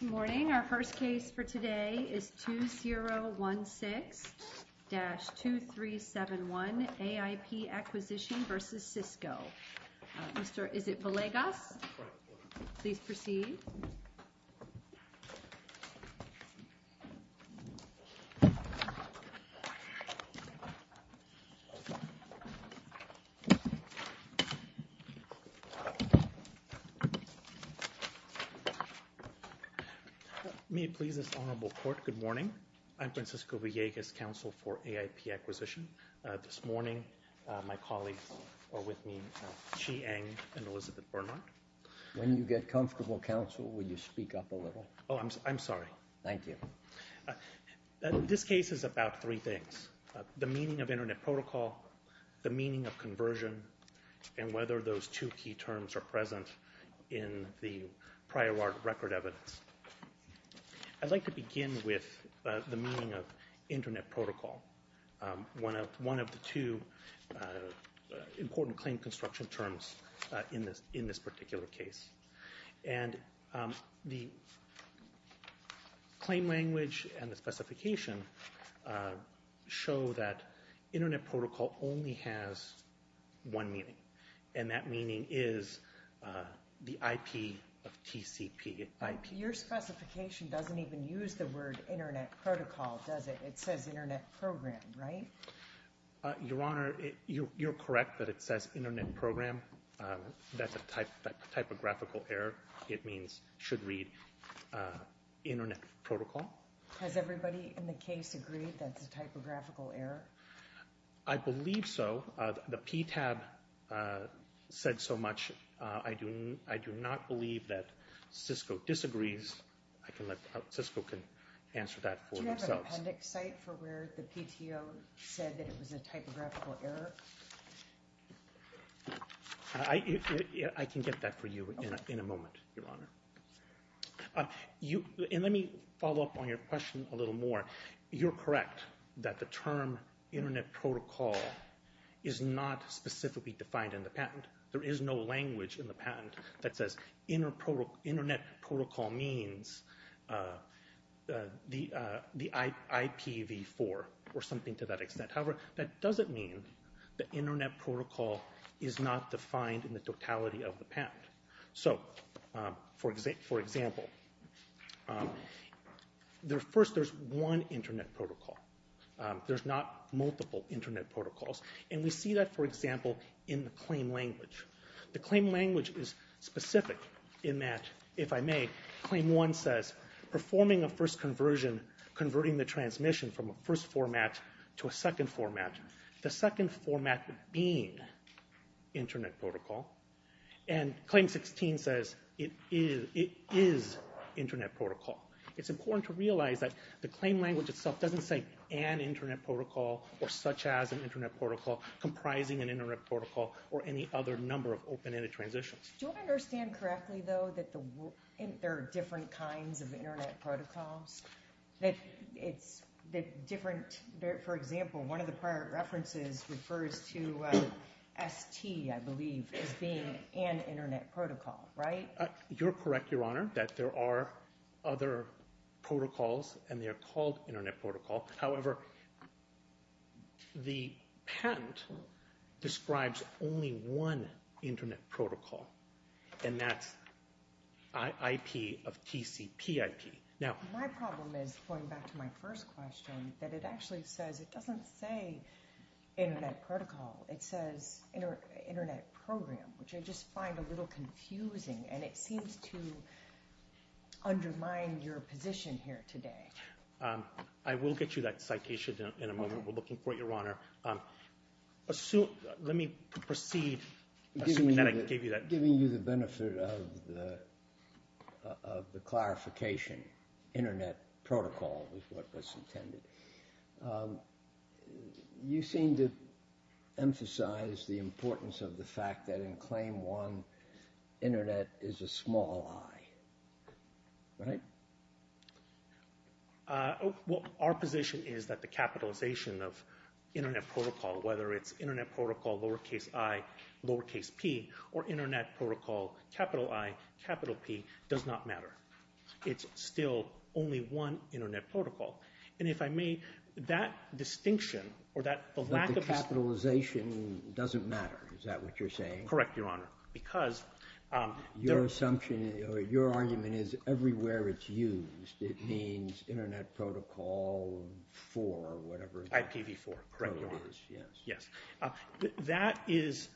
Good morning. Our first case for today is 2016-2371 AIP Acquisition v. Cisco. Is it Villegas? Please proceed. May it please this Honorable Court, good morning. I'm Francisco Villegas, Counsel for AIP Acquisition. This morning, my colleagues are with me, Chi Eng and Elizabeth Bernard. When you get comfortable, Counsel, will you speak up a little? Oh, I'm sorry. Thank you. This case is about three things. The meaning of Internet Protocol, the meaning of conversion, and whether those two key terms are present in the prior record evidence. I'd like to begin with the meaning of Internet Protocol, one of the two important claim construction terms in this particular case. And the claim language and the specification show that Internet Protocol only has one meaning, and that meaning is the IP of TCP. Your specification doesn't even use the word Internet Protocol, does it? It says Internet Program, right? Your Honor, you're correct that it says Internet Program. That's a typographical error. It means should read Internet Protocol. Has everybody in the case agreed that's a typographical error? I believe so. The PTAB said so much. I do not believe that Cisco disagrees. Cisco can answer that for themselves. Do you have an appendix site for where the PTO said that it was a typographical error? I can get that for you in a moment, Your Honor. And let me follow up on your question a little more. You're correct that the term Internet Protocol is not specifically defined in the patent. There is no language in the patent that says Internet Protocol means the IPv4 or something to that extent. However, that doesn't mean that Internet Protocol is not defined in the totality of the patent. So, for example, first there's one Internet Protocol. There's not multiple Internet Protocols. And we see that, for example, in the claim language. The claim language is specific in that, if I may, Claim 1 says performing a first conversion, converting the transmission from a first format to a second format, the second format being Internet Protocol. And Claim 16 says it is Internet Protocol. It's important to realize that the claim language itself doesn't say an Internet Protocol or such as an Internet Protocol comprising an Internet Protocol or any other number of open-ended transitions. Do I understand correctly, though, that there are different kinds of Internet Protocols? For example, one of the prior references refers to ST, I believe, as being an Internet Protocol, right? You're correct, Your Honor, that there are other protocols, and they are called Internet Protocol. However, the patent describes only one Internet Protocol, and that's IP of TCP IP. My problem is, going back to my first question, that it actually says it doesn't say Internet Protocol. It says Internet Program, which I just find a little confusing, and it seems to undermine your position here today. I will get you that citation in a moment. We're looking for it, Your Honor. Let me proceed, assuming that I gave you that. Giving you the benefit of the clarification, Internet Protocol is what was intended. You seem to emphasize the importance of the fact that in Claim 1, Internet is a small I, right? Well, our position is that the capitalization of Internet Protocol, whether it's Internet Protocol lowercase i, lowercase p, or Internet Protocol capital I, capital P, does not matter. It's still only one Internet Protocol. And if I may, that distinction, or that lack of... But the capitalization doesn't matter, is that what you're saying? Correct, Your Honor, because... Your assumption, or your argument, is everywhere it's used, it means Internet Protocol 4, or whatever. IPv4, correct, Your Honor. That is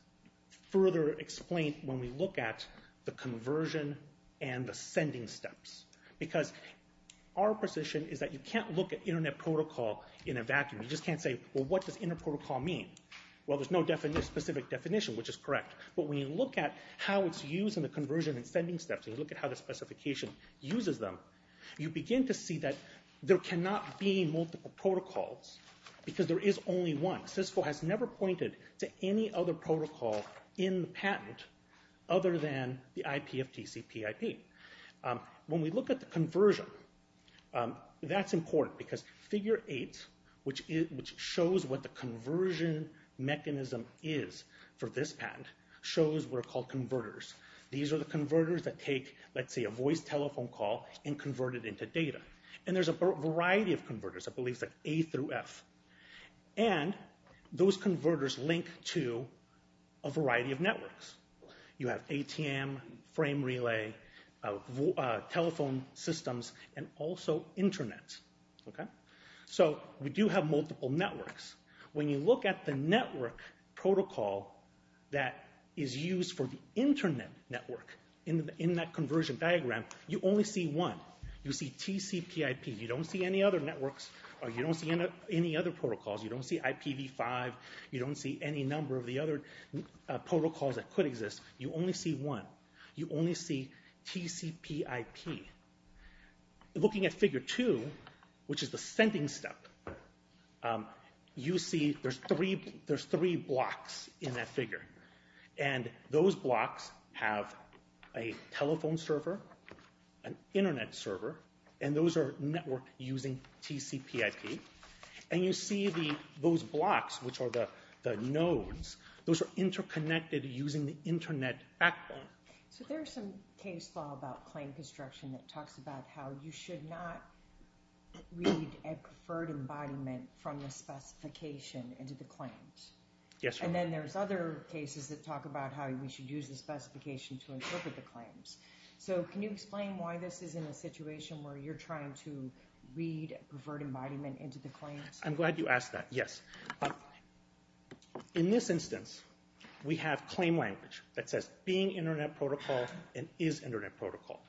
further explained when we look at the conversion and the sending steps. Because our position is that you can't look at Internet Protocol in a vacuum. You just can't say, well, what does Internet Protocol mean? Well, there's no specific definition, which is correct. But when you look at how it's used in the conversion and sending steps, and you look at how the specification uses them, you begin to see that there cannot be multiple protocols, because there is only one. CISCO has never pointed to any other protocol in the patent other than the IPFTC PIP. When we look at the conversion, that's important, because Figure 8, which shows what the conversion mechanism is for this patent, shows what are called converters. These are the converters that take, let's say, a voice telephone call and convert it into data. And there's a variety of converters, I believe it's A through F. And those converters link to a variety of networks. You have ATM, frame relay, telephone systems, and also Internet. So we do have multiple networks. When you look at the network protocol that is used for the Internet network in that conversion diagram, you only see one. You see TCPIP. You don't see any other networks, or you don't see any other protocols. You don't see IPV5. You don't see any number of the other protocols that could exist. You only see one. You only see TCPIP. Looking at Figure 2, which is the sending step, you see there's three blocks in that figure. And those blocks have a telephone server, an Internet server, and those are networked using TCPIP. And you see those blocks, which are the nodes, those are interconnected using the Internet backbone. So there's some case law about claim construction that talks about how you should not read a preferred embodiment from the specification into the claims. Yes, ma'am. And then there's other cases that talk about how we should use the specification to interpret the claims. So can you explain why this is in a situation where you're trying to read a preferred embodiment into the claims? I'm glad you asked that, yes. In this instance, we have claim language that says being Internet protocol and is Internet protocol.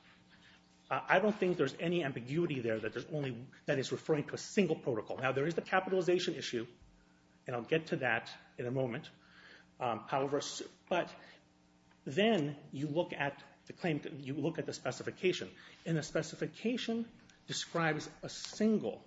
I don't think there's any ambiguity there that is referring to a single protocol. Now, there is the capitalization issue, and I'll get to that in a moment. But then you look at the specification, and the specification describes a single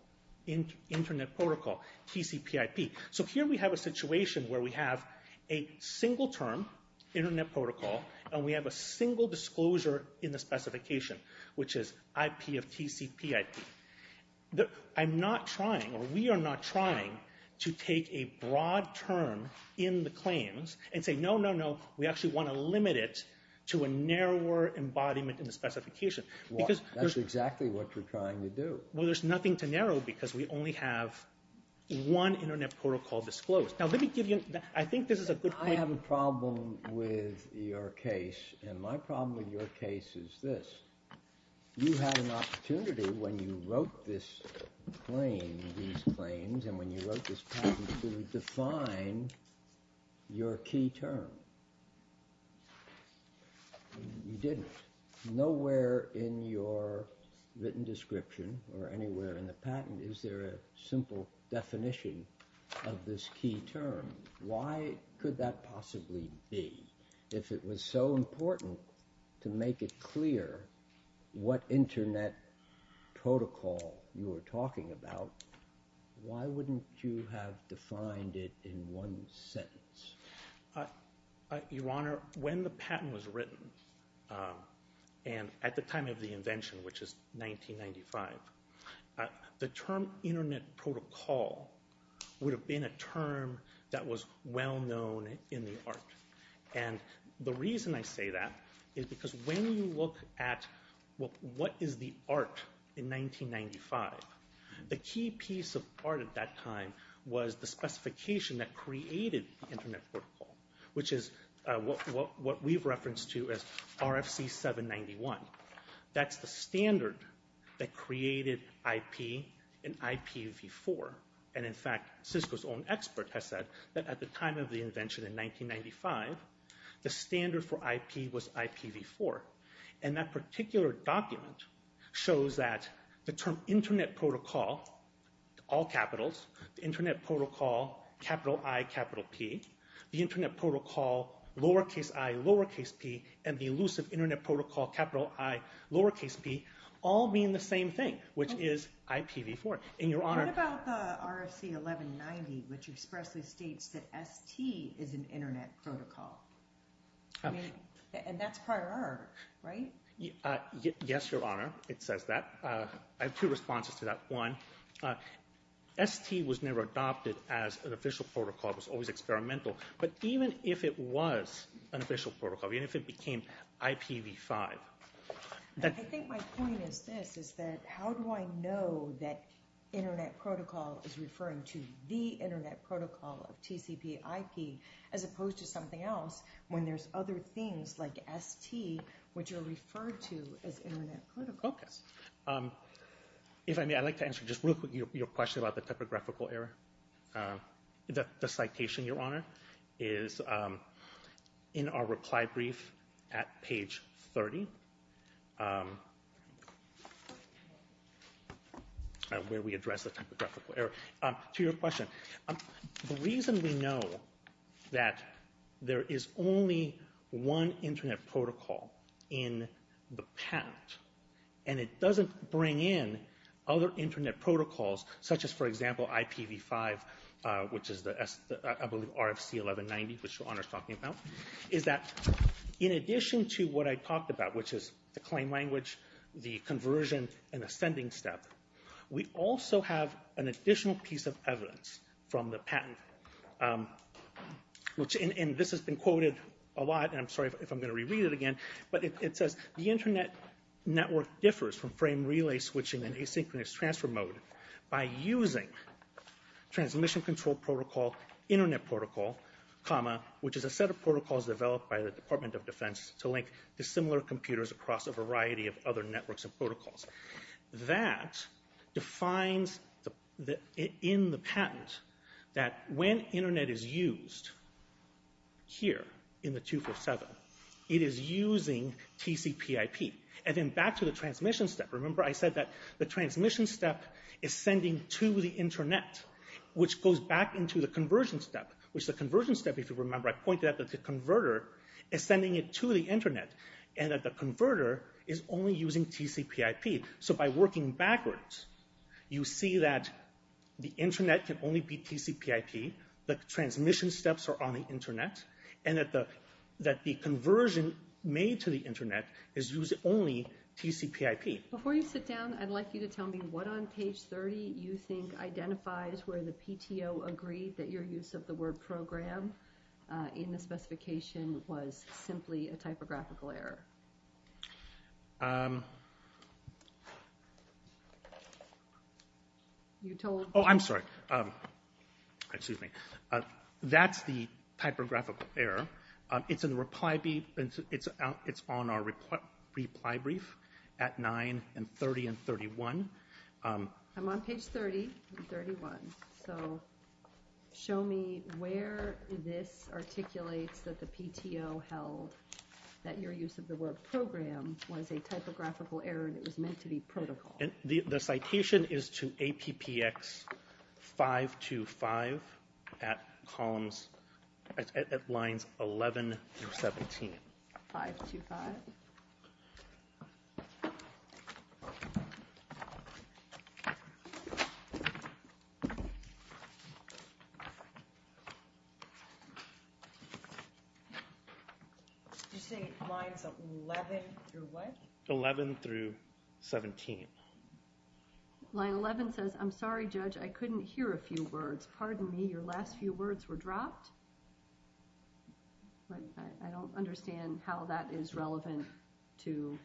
Internet protocol, TCPIP. So here we have a situation where we have a single term, Internet protocol, and we have a single disclosure in the specification, which is IP of TCPIP. I'm not trying, or we are not trying, to take a broad term in the claims and say, no, no, no, we actually want to limit it to a narrower embodiment in the specification. That's exactly what you're trying to do. Well, there's nothing to narrow because we only have one Internet protocol disclosed. Now, let me give you, I think this is a good point. I have a problem with your case, and my problem with your case is this. You had an opportunity when you wrote this claim, these claims, and when you wrote this patent to define your key term. You didn't. Nowhere in your written description or anywhere in the patent is there a simple definition of this key term. Why could that possibly be? If it was so important to make it clear what Internet protocol you were talking about, why wouldn't you have defined it in one sentence? Your Honor, when the patent was written, and at the time of the invention, which is 1995, the term Internet protocol would have been a term that was well known in the art. And the reason I say that is because when you look at what is the art in 1995, the key piece of art at that time was the specification that created Internet protocol, which is what we've referenced to as RFC 791. That's the standard that created IP and IPv4. And in fact, Cisco's own expert has said that at the time of the invention in 1995, the standard for IP was IPv4. And that particular document shows that the term Internet protocol, all capitals, the Internet protocol, capital I, capital P, the Internet protocol, lowercase I, lowercase P, and the elusive Internet protocol, capital I, lowercase P, all mean the same thing, which is IPv4. What about the RFC 1190, which expressly states that ST is an Internet protocol? And that's prior art, right? Yes, Your Honor, it says that. I have two responses to that. ST was never adopted as an official protocol. It was always experimental. But even if it was an official protocol, even if it became IPv5... I think my point is this, is that how do I know that Internet protocol is referring to the Internet protocol of TCP IP as opposed to something else when there's other things like ST which are referred to as Internet protocol? If I may, I'd like to answer just real quick your question about the typographical error. The citation, Your Honor, is in our reply brief at page 30, where we address the typographical error. To your question, the reason we know that there is only one Internet protocol in the patent, and it doesn't bring in other Internet protocols, such as, for example, IPv5, which is the RFC 1190, which Your Honor is talking about, is that in addition to what I talked about, which is the claim language, the conversion, and the sending step, we also have an additional piece of evidence from the patent. And this has been quoted a lot, and I'm sorry if I'm going to reread it again, but it says, the Internet network differs from frame relay switching and asynchronous transfer mode by using transmission control protocol, Internet protocol, comma, which is a set of protocols developed by the Department of Defense to link to similar computers across a variety of other networks and protocols. That defines in the patent that when Internet is used here in the 247, it is using TCPIP. And then back to the transmission step, remember I said that the transmission step is sending to the Internet, which goes back into the conversion step, which the conversion step, if you remember, I pointed out that the converter is sending it to the Internet, and that the converter is only using TCPIP. So by working backwards, you see that the Internet can only be TCPIP, the transmission steps are on the Internet, and that the conversion made to the Internet is using only TCPIP. Before you sit down, I'd like you to tell me what on page 30 you think identifies where the PTO agreed that your use of the word program in the specification was simply a typographical error. You told... Oh, I'm sorry. Excuse me. That's the typographical error. It's on our reply brief at 9 and 30 and 31. I'm on page 30 and 31. So show me where this articulates that the PTO held that your use of the word program was a typographical error and it was meant to be protocol. The citation is to APPX 525 at lines 11 through 17. 525. You're saying lines 11 through what? 11 through 17. Line 11 says, I'm sorry, Judge, I couldn't hear a few words. Pardon me, your last few words were dropped? I don't understand how that is relevant to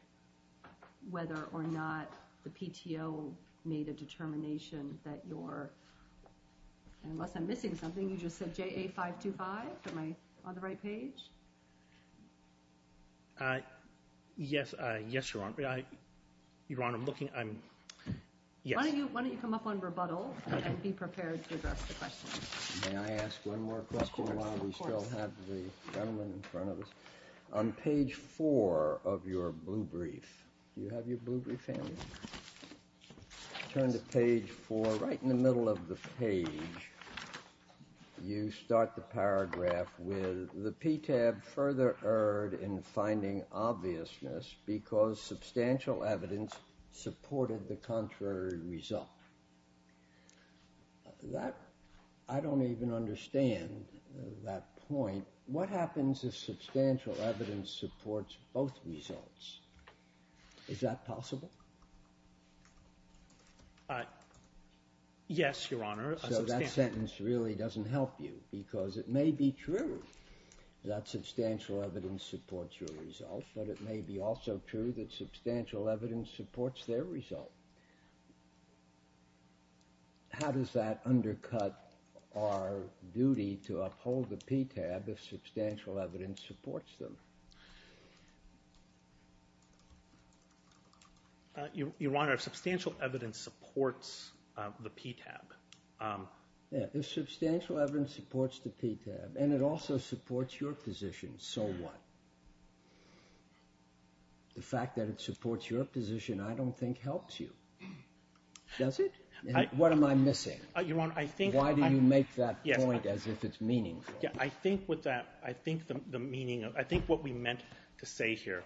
whether or not the PTO made a determination that your... Unless I'm missing something. You just said JA525? Am I on the right page? Yes, Your Honor. Your Honor, I'm looking... Why don't you come up on rebuttal and be prepared to address the question? May I ask one more question while we still have the gentleman in front of us? On page 4 of your blue brief, do you have your blue brief handy? Turn to page 4. Right in the middle of the page, you start the paragraph with the PTAB further erred in finding obviousness because substantial evidence supported the contrary result. I don't even understand that point. What happens if substantial evidence supports both results? Is that possible? Yes, Your Honor. So that sentence really doesn't help you because it may be true that substantial evidence supports your result, but it may be also true that substantial evidence supports their result. How does that undercut our duty to uphold the PTAB if substantial evidence supports them? Your Honor, if substantial evidence supports the PTAB... If substantial evidence supports the PTAB and it also supports your position, so what? The fact that it supports your position I don't think helps you. Does it? What am I missing? Why do you make that point as if it's meaningful? I think what we meant to say here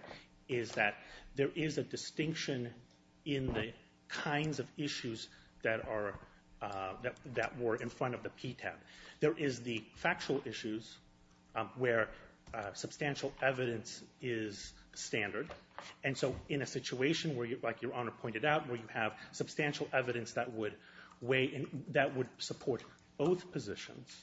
is that there is a distinction in the kinds of issues that were in front of the PTAB. There is the factual issues where substantial evidence is standard, and so in a situation like Your Honor pointed out where you have substantial evidence that would support both positions,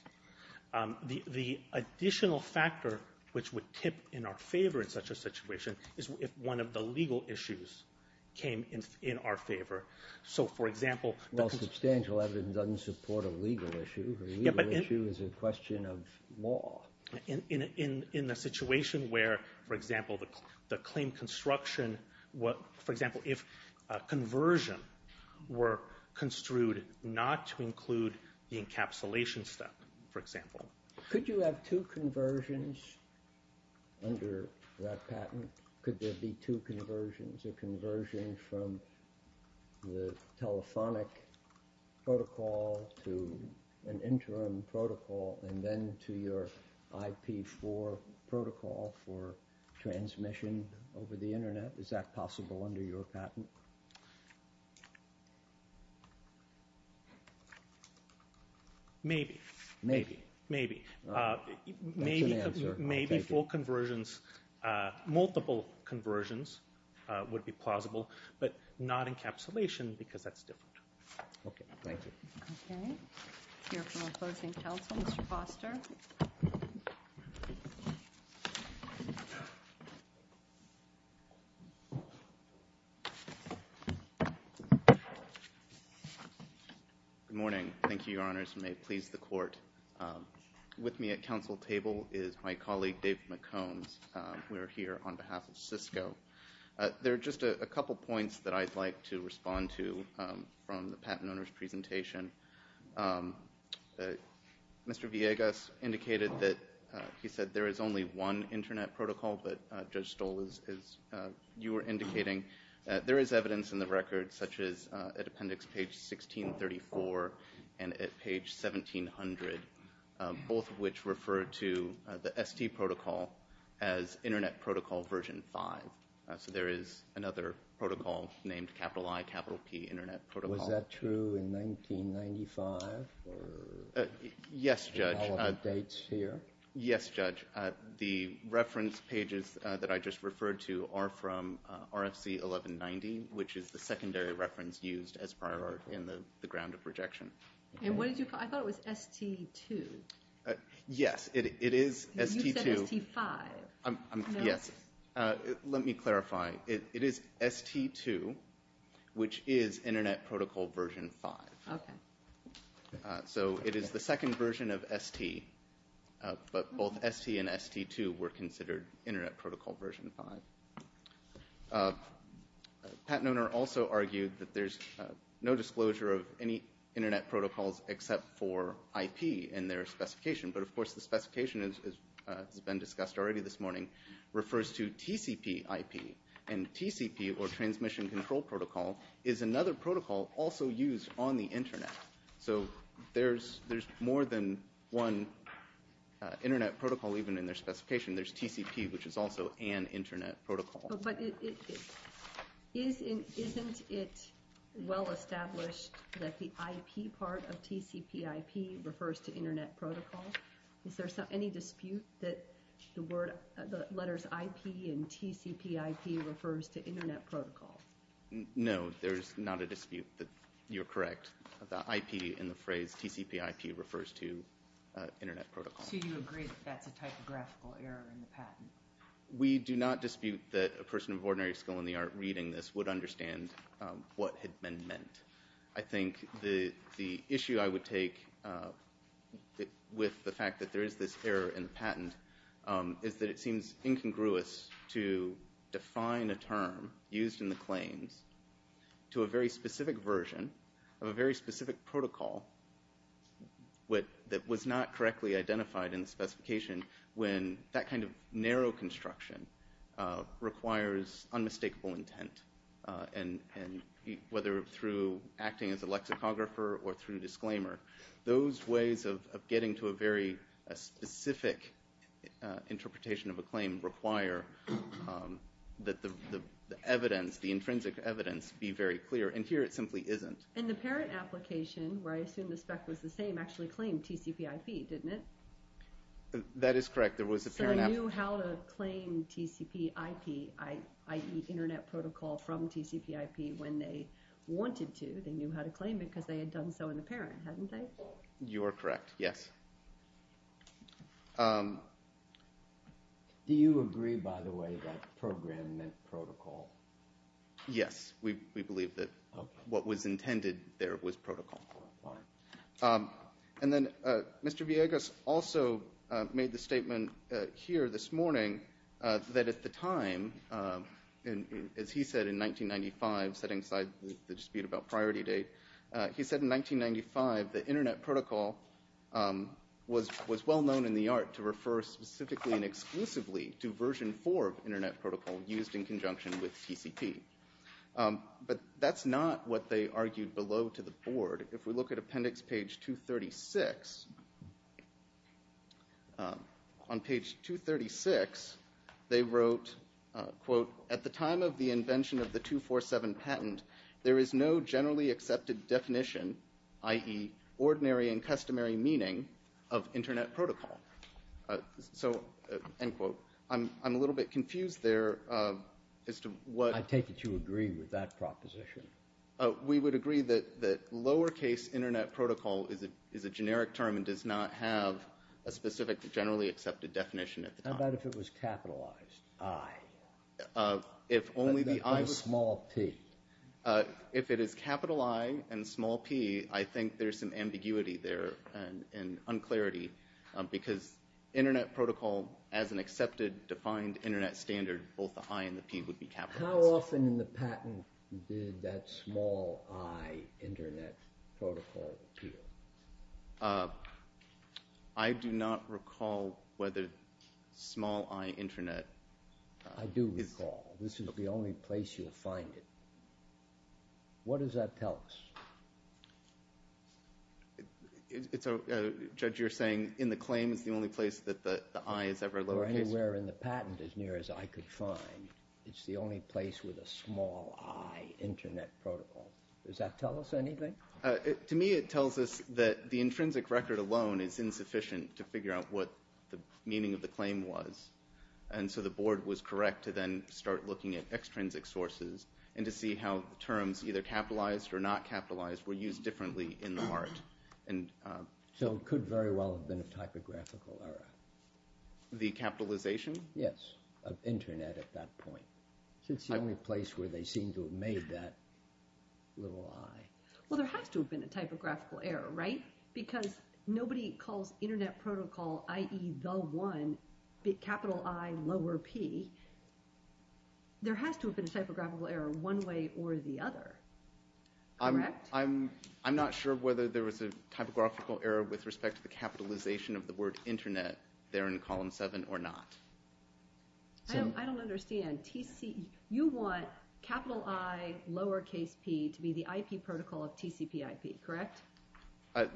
the additional factor which would tip in our favor in such a situation is if one of the legal issues came in our favor. So, for example... Well, substantial evidence doesn't support a legal issue. A legal issue is a question of law. In a situation where, for example, the claim construction... For example, if conversion were construed not to include the encapsulation step, for example. Could you have two conversions under that patent? Could there be two conversions? A conversion from the telephonic protocol to an interim protocol and then to your IP4 protocol for transmission over the Internet? Is that possible under your patent? Maybe. Maybe. Maybe. That's an answer. Maybe full conversions, multiple conversions would be plausible, but not encapsulation because that's different. Okay, thank you. Okay. Hearing from the closing counsel, Mr. Foster. Good morning. Thank you, Your Honors. May it please the Court. With me at counsel table is my colleague, Dave McCombs. We're here on behalf of Cisco. There are just a couple points that I'd like to respond to from the patent owner's presentation. Mr. Villegas indicated that he said there is only one Internet protocol, but Judge Stoll, as you were indicating, there is evidence in the record such as at Appendix Page 1634 and at Page 1700, both of which refer to the ST protocol as Internet Protocol Version 5. So there is another protocol named I-P Internet Protocol. Was that true in 1995? Yes, Judge. All of the dates here? Yes, Judge. The reference pages that I just referred to are from RFC 1190, which is the secondary reference used as prior art in the ground of rejection. And what did you call it? I thought it was ST2. Yes, it is ST2. You said ST5. Yes. Let me clarify. It is ST2, which is Internet Protocol Version 5. Okay. So it is the second version of ST, but both ST and ST2 were considered Internet Protocol Version 5. The patent owner also argued that there is no disclosure of any Internet protocols except for I-P in their specification, but of course the specification, as has been discussed already this morning, refers to TCP I-P, and TCP, or Transmission Control Protocol, is another protocol also used on the Internet. So there's more than one Internet protocol even in their specification. There's TCP, which is also an Internet protocol. But isn't it well established that the I-P part of TCP I-P refers to Internet Protocol? Is there any dispute that the letters I-P and TCP I-P refers to Internet Protocol? No, there's not a dispute that you're correct. The I-P in the phrase TCP I-P refers to Internet Protocol. So you agree that that's a typographical error in the patent? We do not dispute that a person of ordinary skill in the art reading this would understand what had been meant. I think the issue I would take with the fact that there is this error in the patent is that it seems incongruous to define a term used in the claims to a very specific version of a very specific protocol that was not correctly identified in the specification when that kind of narrow construction requires unmistakable intent. And whether through acting as a lexicographer or through disclaimer, those ways of getting to a very specific interpretation of a claim require that the evidence, the intrinsic evidence, be very clear. And here it simply isn't. And the parent application, where I assume the spec was the same, actually claimed TCP I-P, didn't it? That is correct. So they knew how to claim TCP I-P, i.e. Internet Protocol from TCP I-P when they wanted to. They knew how to claim it because they had done so in the parent, hadn't they? You are correct, yes. Do you agree, by the way, that program meant protocol? Yes, we believe that what was intended there was protocol. And then Mr. Villegas also made the statement here this morning that at the time, as he said in 1995, setting aside the dispute about priority date, he said in 1995 that Internet Protocol was well known in the art to refer specifically and exclusively to version 4 of Internet Protocol used in conjunction with TCP. But that's not what they argued below to the board. If we look at appendix page 236, on page 236, they wrote, quote, at the time of the invention of the 247 patent, there is no generally accepted definition, i.e. ordinary and customary meaning of Internet Protocol. So, end quote. I'm a little bit confused there as to what. I take it you agree with that proposition. We would agree that lowercase Internet Protocol is a generic term and does not have a specific generally accepted definition at the time. How about if it was capitalized? I. If only the I. A small P. If it is capital I and small P, I think there's some ambiguity there and unclarity because Internet Protocol, as an accepted defined Internet standard, both the I and the P would be capitalized. How often in the patent did that small I Internet Protocol appeal? I do not recall whether small I Internet. I do recall. This is the only place you'll find it. What does that tell us? Judge, you're saying in the claim is the only place that the I is ever located? Or anywhere in the patent as near as I could find. It's the only place with a small I Internet Protocol. Does that tell us anything? To me it tells us that the intrinsic record alone is insufficient to figure out what the meaning of the claim was, and so the board was correct to then start looking at extrinsic sources and to see how terms either capitalized or not capitalized were used differently in the art. So it could very well have been a typographical error. The capitalization? Yes, of Internet at that point. It's the only place where they seem to have made that little I. Well, there has to have been a typographical error, right? Because nobody calls Internet Protocol, i.e., the one, capital I lower P. There has to have been a typographical error one way or the other. I'm not sure whether there was a typographical error with respect to the capitalization of the word Internet there in column 7 or not. I don't understand. You want capital I lower case P to be the IP protocol of TCPIP, correct?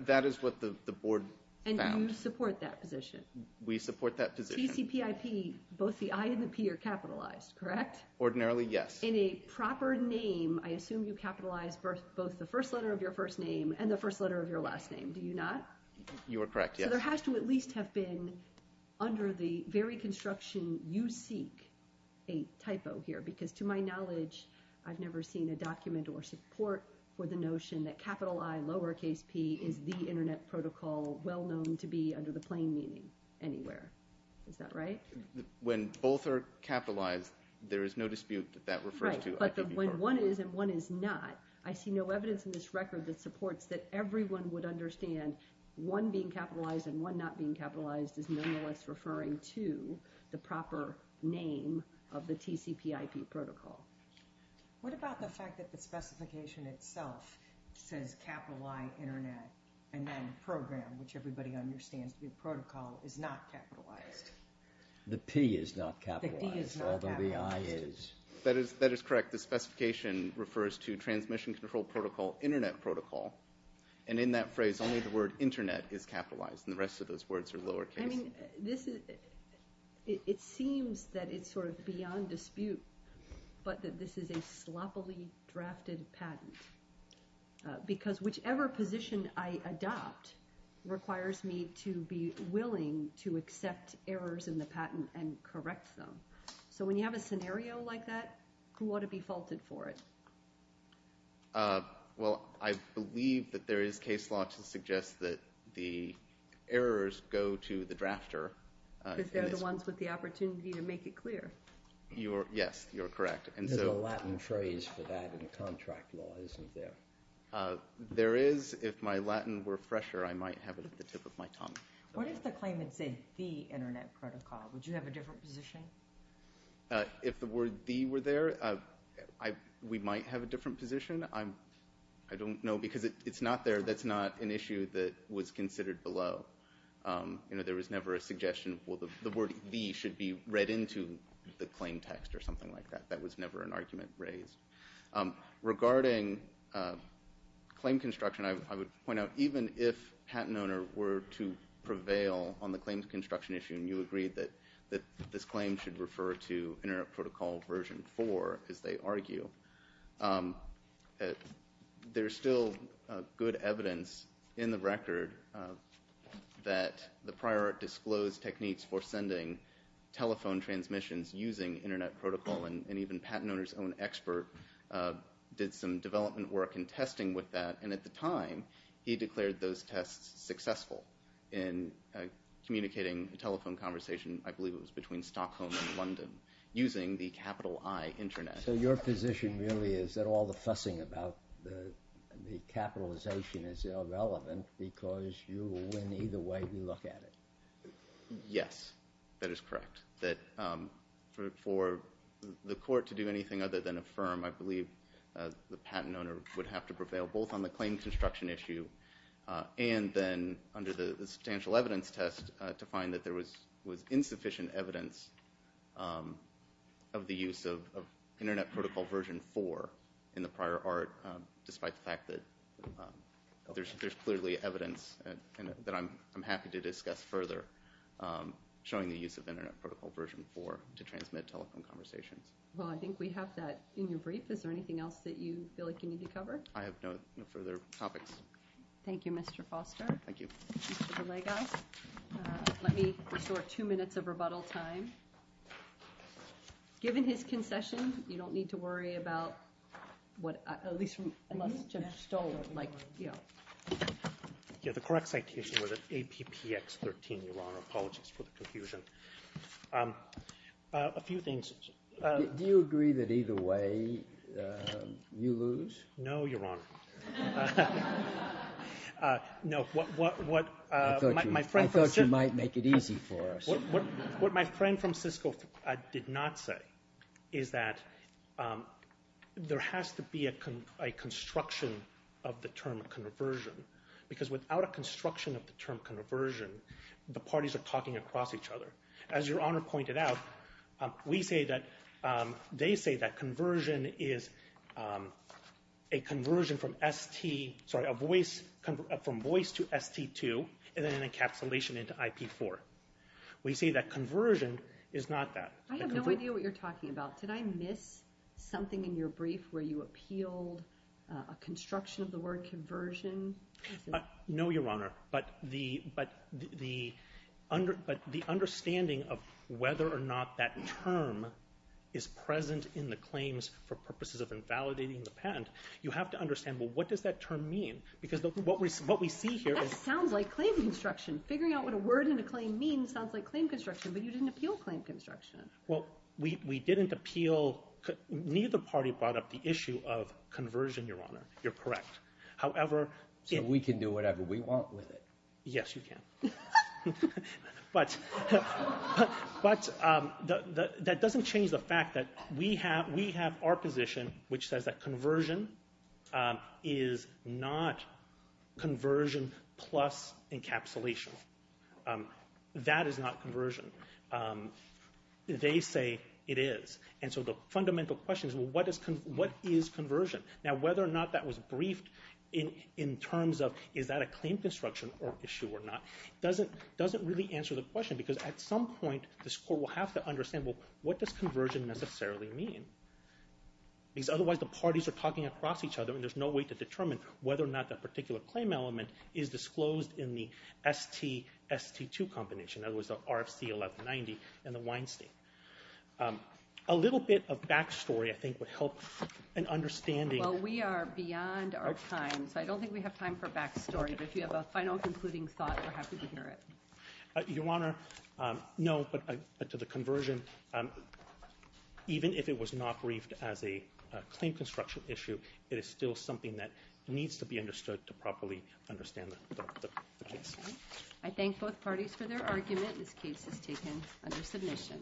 That is what the board found. And you support that position? We support that position. TCPIP, both the I and the P are capitalized, correct? Ordinarily, yes. In a proper name, I assume you capitalize both the first letter of your first name and the first letter of your last name, do you not? You are correct, yes. So there has to at least have been, under the very construction you seek, a typo here. Because to my knowledge, I've never seen a document or support for the notion that capital I lower case P is the Internet Protocol well known to be under the plain meaning anywhere. Is that right? When both are capitalized, there is no dispute that that refers to IPV4. Right, but when one is and one is not, I see no evidence in this record that supports that everyone would understand one being capitalized and one not being capitalized is nonetheless referring to the proper name of the TCPIP protocol. What about the fact that the specification itself says capital I Internet and then program, which everybody understands to be protocol, is not capitalized? The P is not capitalized, although the I is. That is correct. The specification refers to Transmission Control Protocol Internet Protocol, and in that phrase only the word Internet is capitalized and the rest of those words are lower case. I mean, it seems that it's sort of beyond dispute, but that this is a sloppily drafted patent. Because whichever position I adopt requires me to be willing to accept errors in the patent and correct them. So when you have a scenario like that, who ought to be faulted for it? Well, I believe that there is case law to suggest that the errors go to the drafter. Because they're the ones with the opportunity to make it clear. Yes, you're correct. There's a Latin phrase for that in the contract law, isn't there? There is. If my Latin were fresher, I might have it at the tip of my tongue. What if the claimant said the Internet Protocol? Would you have a different position? If the word the were there, we might have a different position. I don't know because it's not there. That's not an issue that was considered below. There was never a suggestion, well, the word the should be read into the claim text or something like that. That was never an argument raised. Regarding claim construction, I would point out, even if Patent Owner were to prevail on the claim construction issue and you agreed that this claim should refer to Internet Protocol Version 4, as they argue, there's still good evidence in the record that the prior art disclosed techniques for sending telephone transmissions using Internet Protocol. And even Patent Owner's own expert did some development work in testing with that. And at the time, he declared those tests successful in communicating a telephone conversation, I believe it was between Stockholm and London, using the capital I, Internet. So your position really is that all the fussing about the capitalization is irrelevant because you will win either way we look at it. Yes, that is correct. That for the court to do anything other than affirm, I believe the Patent Owner would have to prevail both on the claim construction issue and then under the substantial evidence test to find that there was insufficient evidence of the use of Internet Protocol Version 4 in the prior art, despite the fact that there's clearly evidence that I'm happy to discuss further showing the use of Internet Protocol Version 4 to transmit telephone conversations. Well, I think we have that in your brief. Is there anything else that you feel like you need to cover? I have no further topics. Thank you, Mr. Foster. Thank you. Mr. DeLagos. Let me restore two minutes of rebuttal time. Given his concession, you don't need to worry about what I... At least from... Like, you know... Yeah, the correct citation was at APPX 13, Your Honor. Apologies for the confusion. A few things. Do you agree that either way you lose? No, Your Honor. No, what... I thought you might make it easy for us. What my friend from Cisco did not say is that there has to be a construction of the term conversion because without a construction of the term conversion, the parties are talking across each other. As Your Honor pointed out, we say that... They say that conversion is a conversion from ST... Sorry, a voice... From voice to ST2 and then an encapsulation into IP4. We say that conversion is not that. I have no idea what you're talking about. Did I miss something in your brief where you appealed a construction of the word conversion? No, Your Honor, but the understanding of whether or not that term is present in the claims for purposes of invalidating the patent, you have to understand, well, what does that term mean? Because what we see here is... That sounds like claim construction. Figuring out what a word in a claim means sounds like claim construction, but you didn't appeal claim construction. Well, we didn't appeal... Neither party brought up the issue of conversion, Your Honor. You're correct. However... So we can do whatever we want with it. Yes, you can. But that doesn't change the fact that we have our position, which says that conversion is not conversion plus encapsulation. That is not conversion. They say it is. And so the fundamental question is, well, what is conversion? Now, whether or not that was briefed in terms of is that a claim construction issue or not doesn't really answer the question, because at some point, this Court will have to understand, well, what does conversion necessarily mean? Because otherwise the parties are talking across each other, and there's no way to determine whether or not that particular claim element is disclosed in the ST-ST2 combination, in other words, the RFC 1190 and the Weinstein. A little bit of back story, I think, would help an understanding. Well, we are beyond our time, so I don't think we have time for back story. But if you have a final concluding thought, we're happy to hear it. Your Honor, no, but to the conversion, even if it was not briefed as a claim construction issue, it is still something that needs to be understood to properly understand the case. I thank both parties for their argument. This case is taken under submission.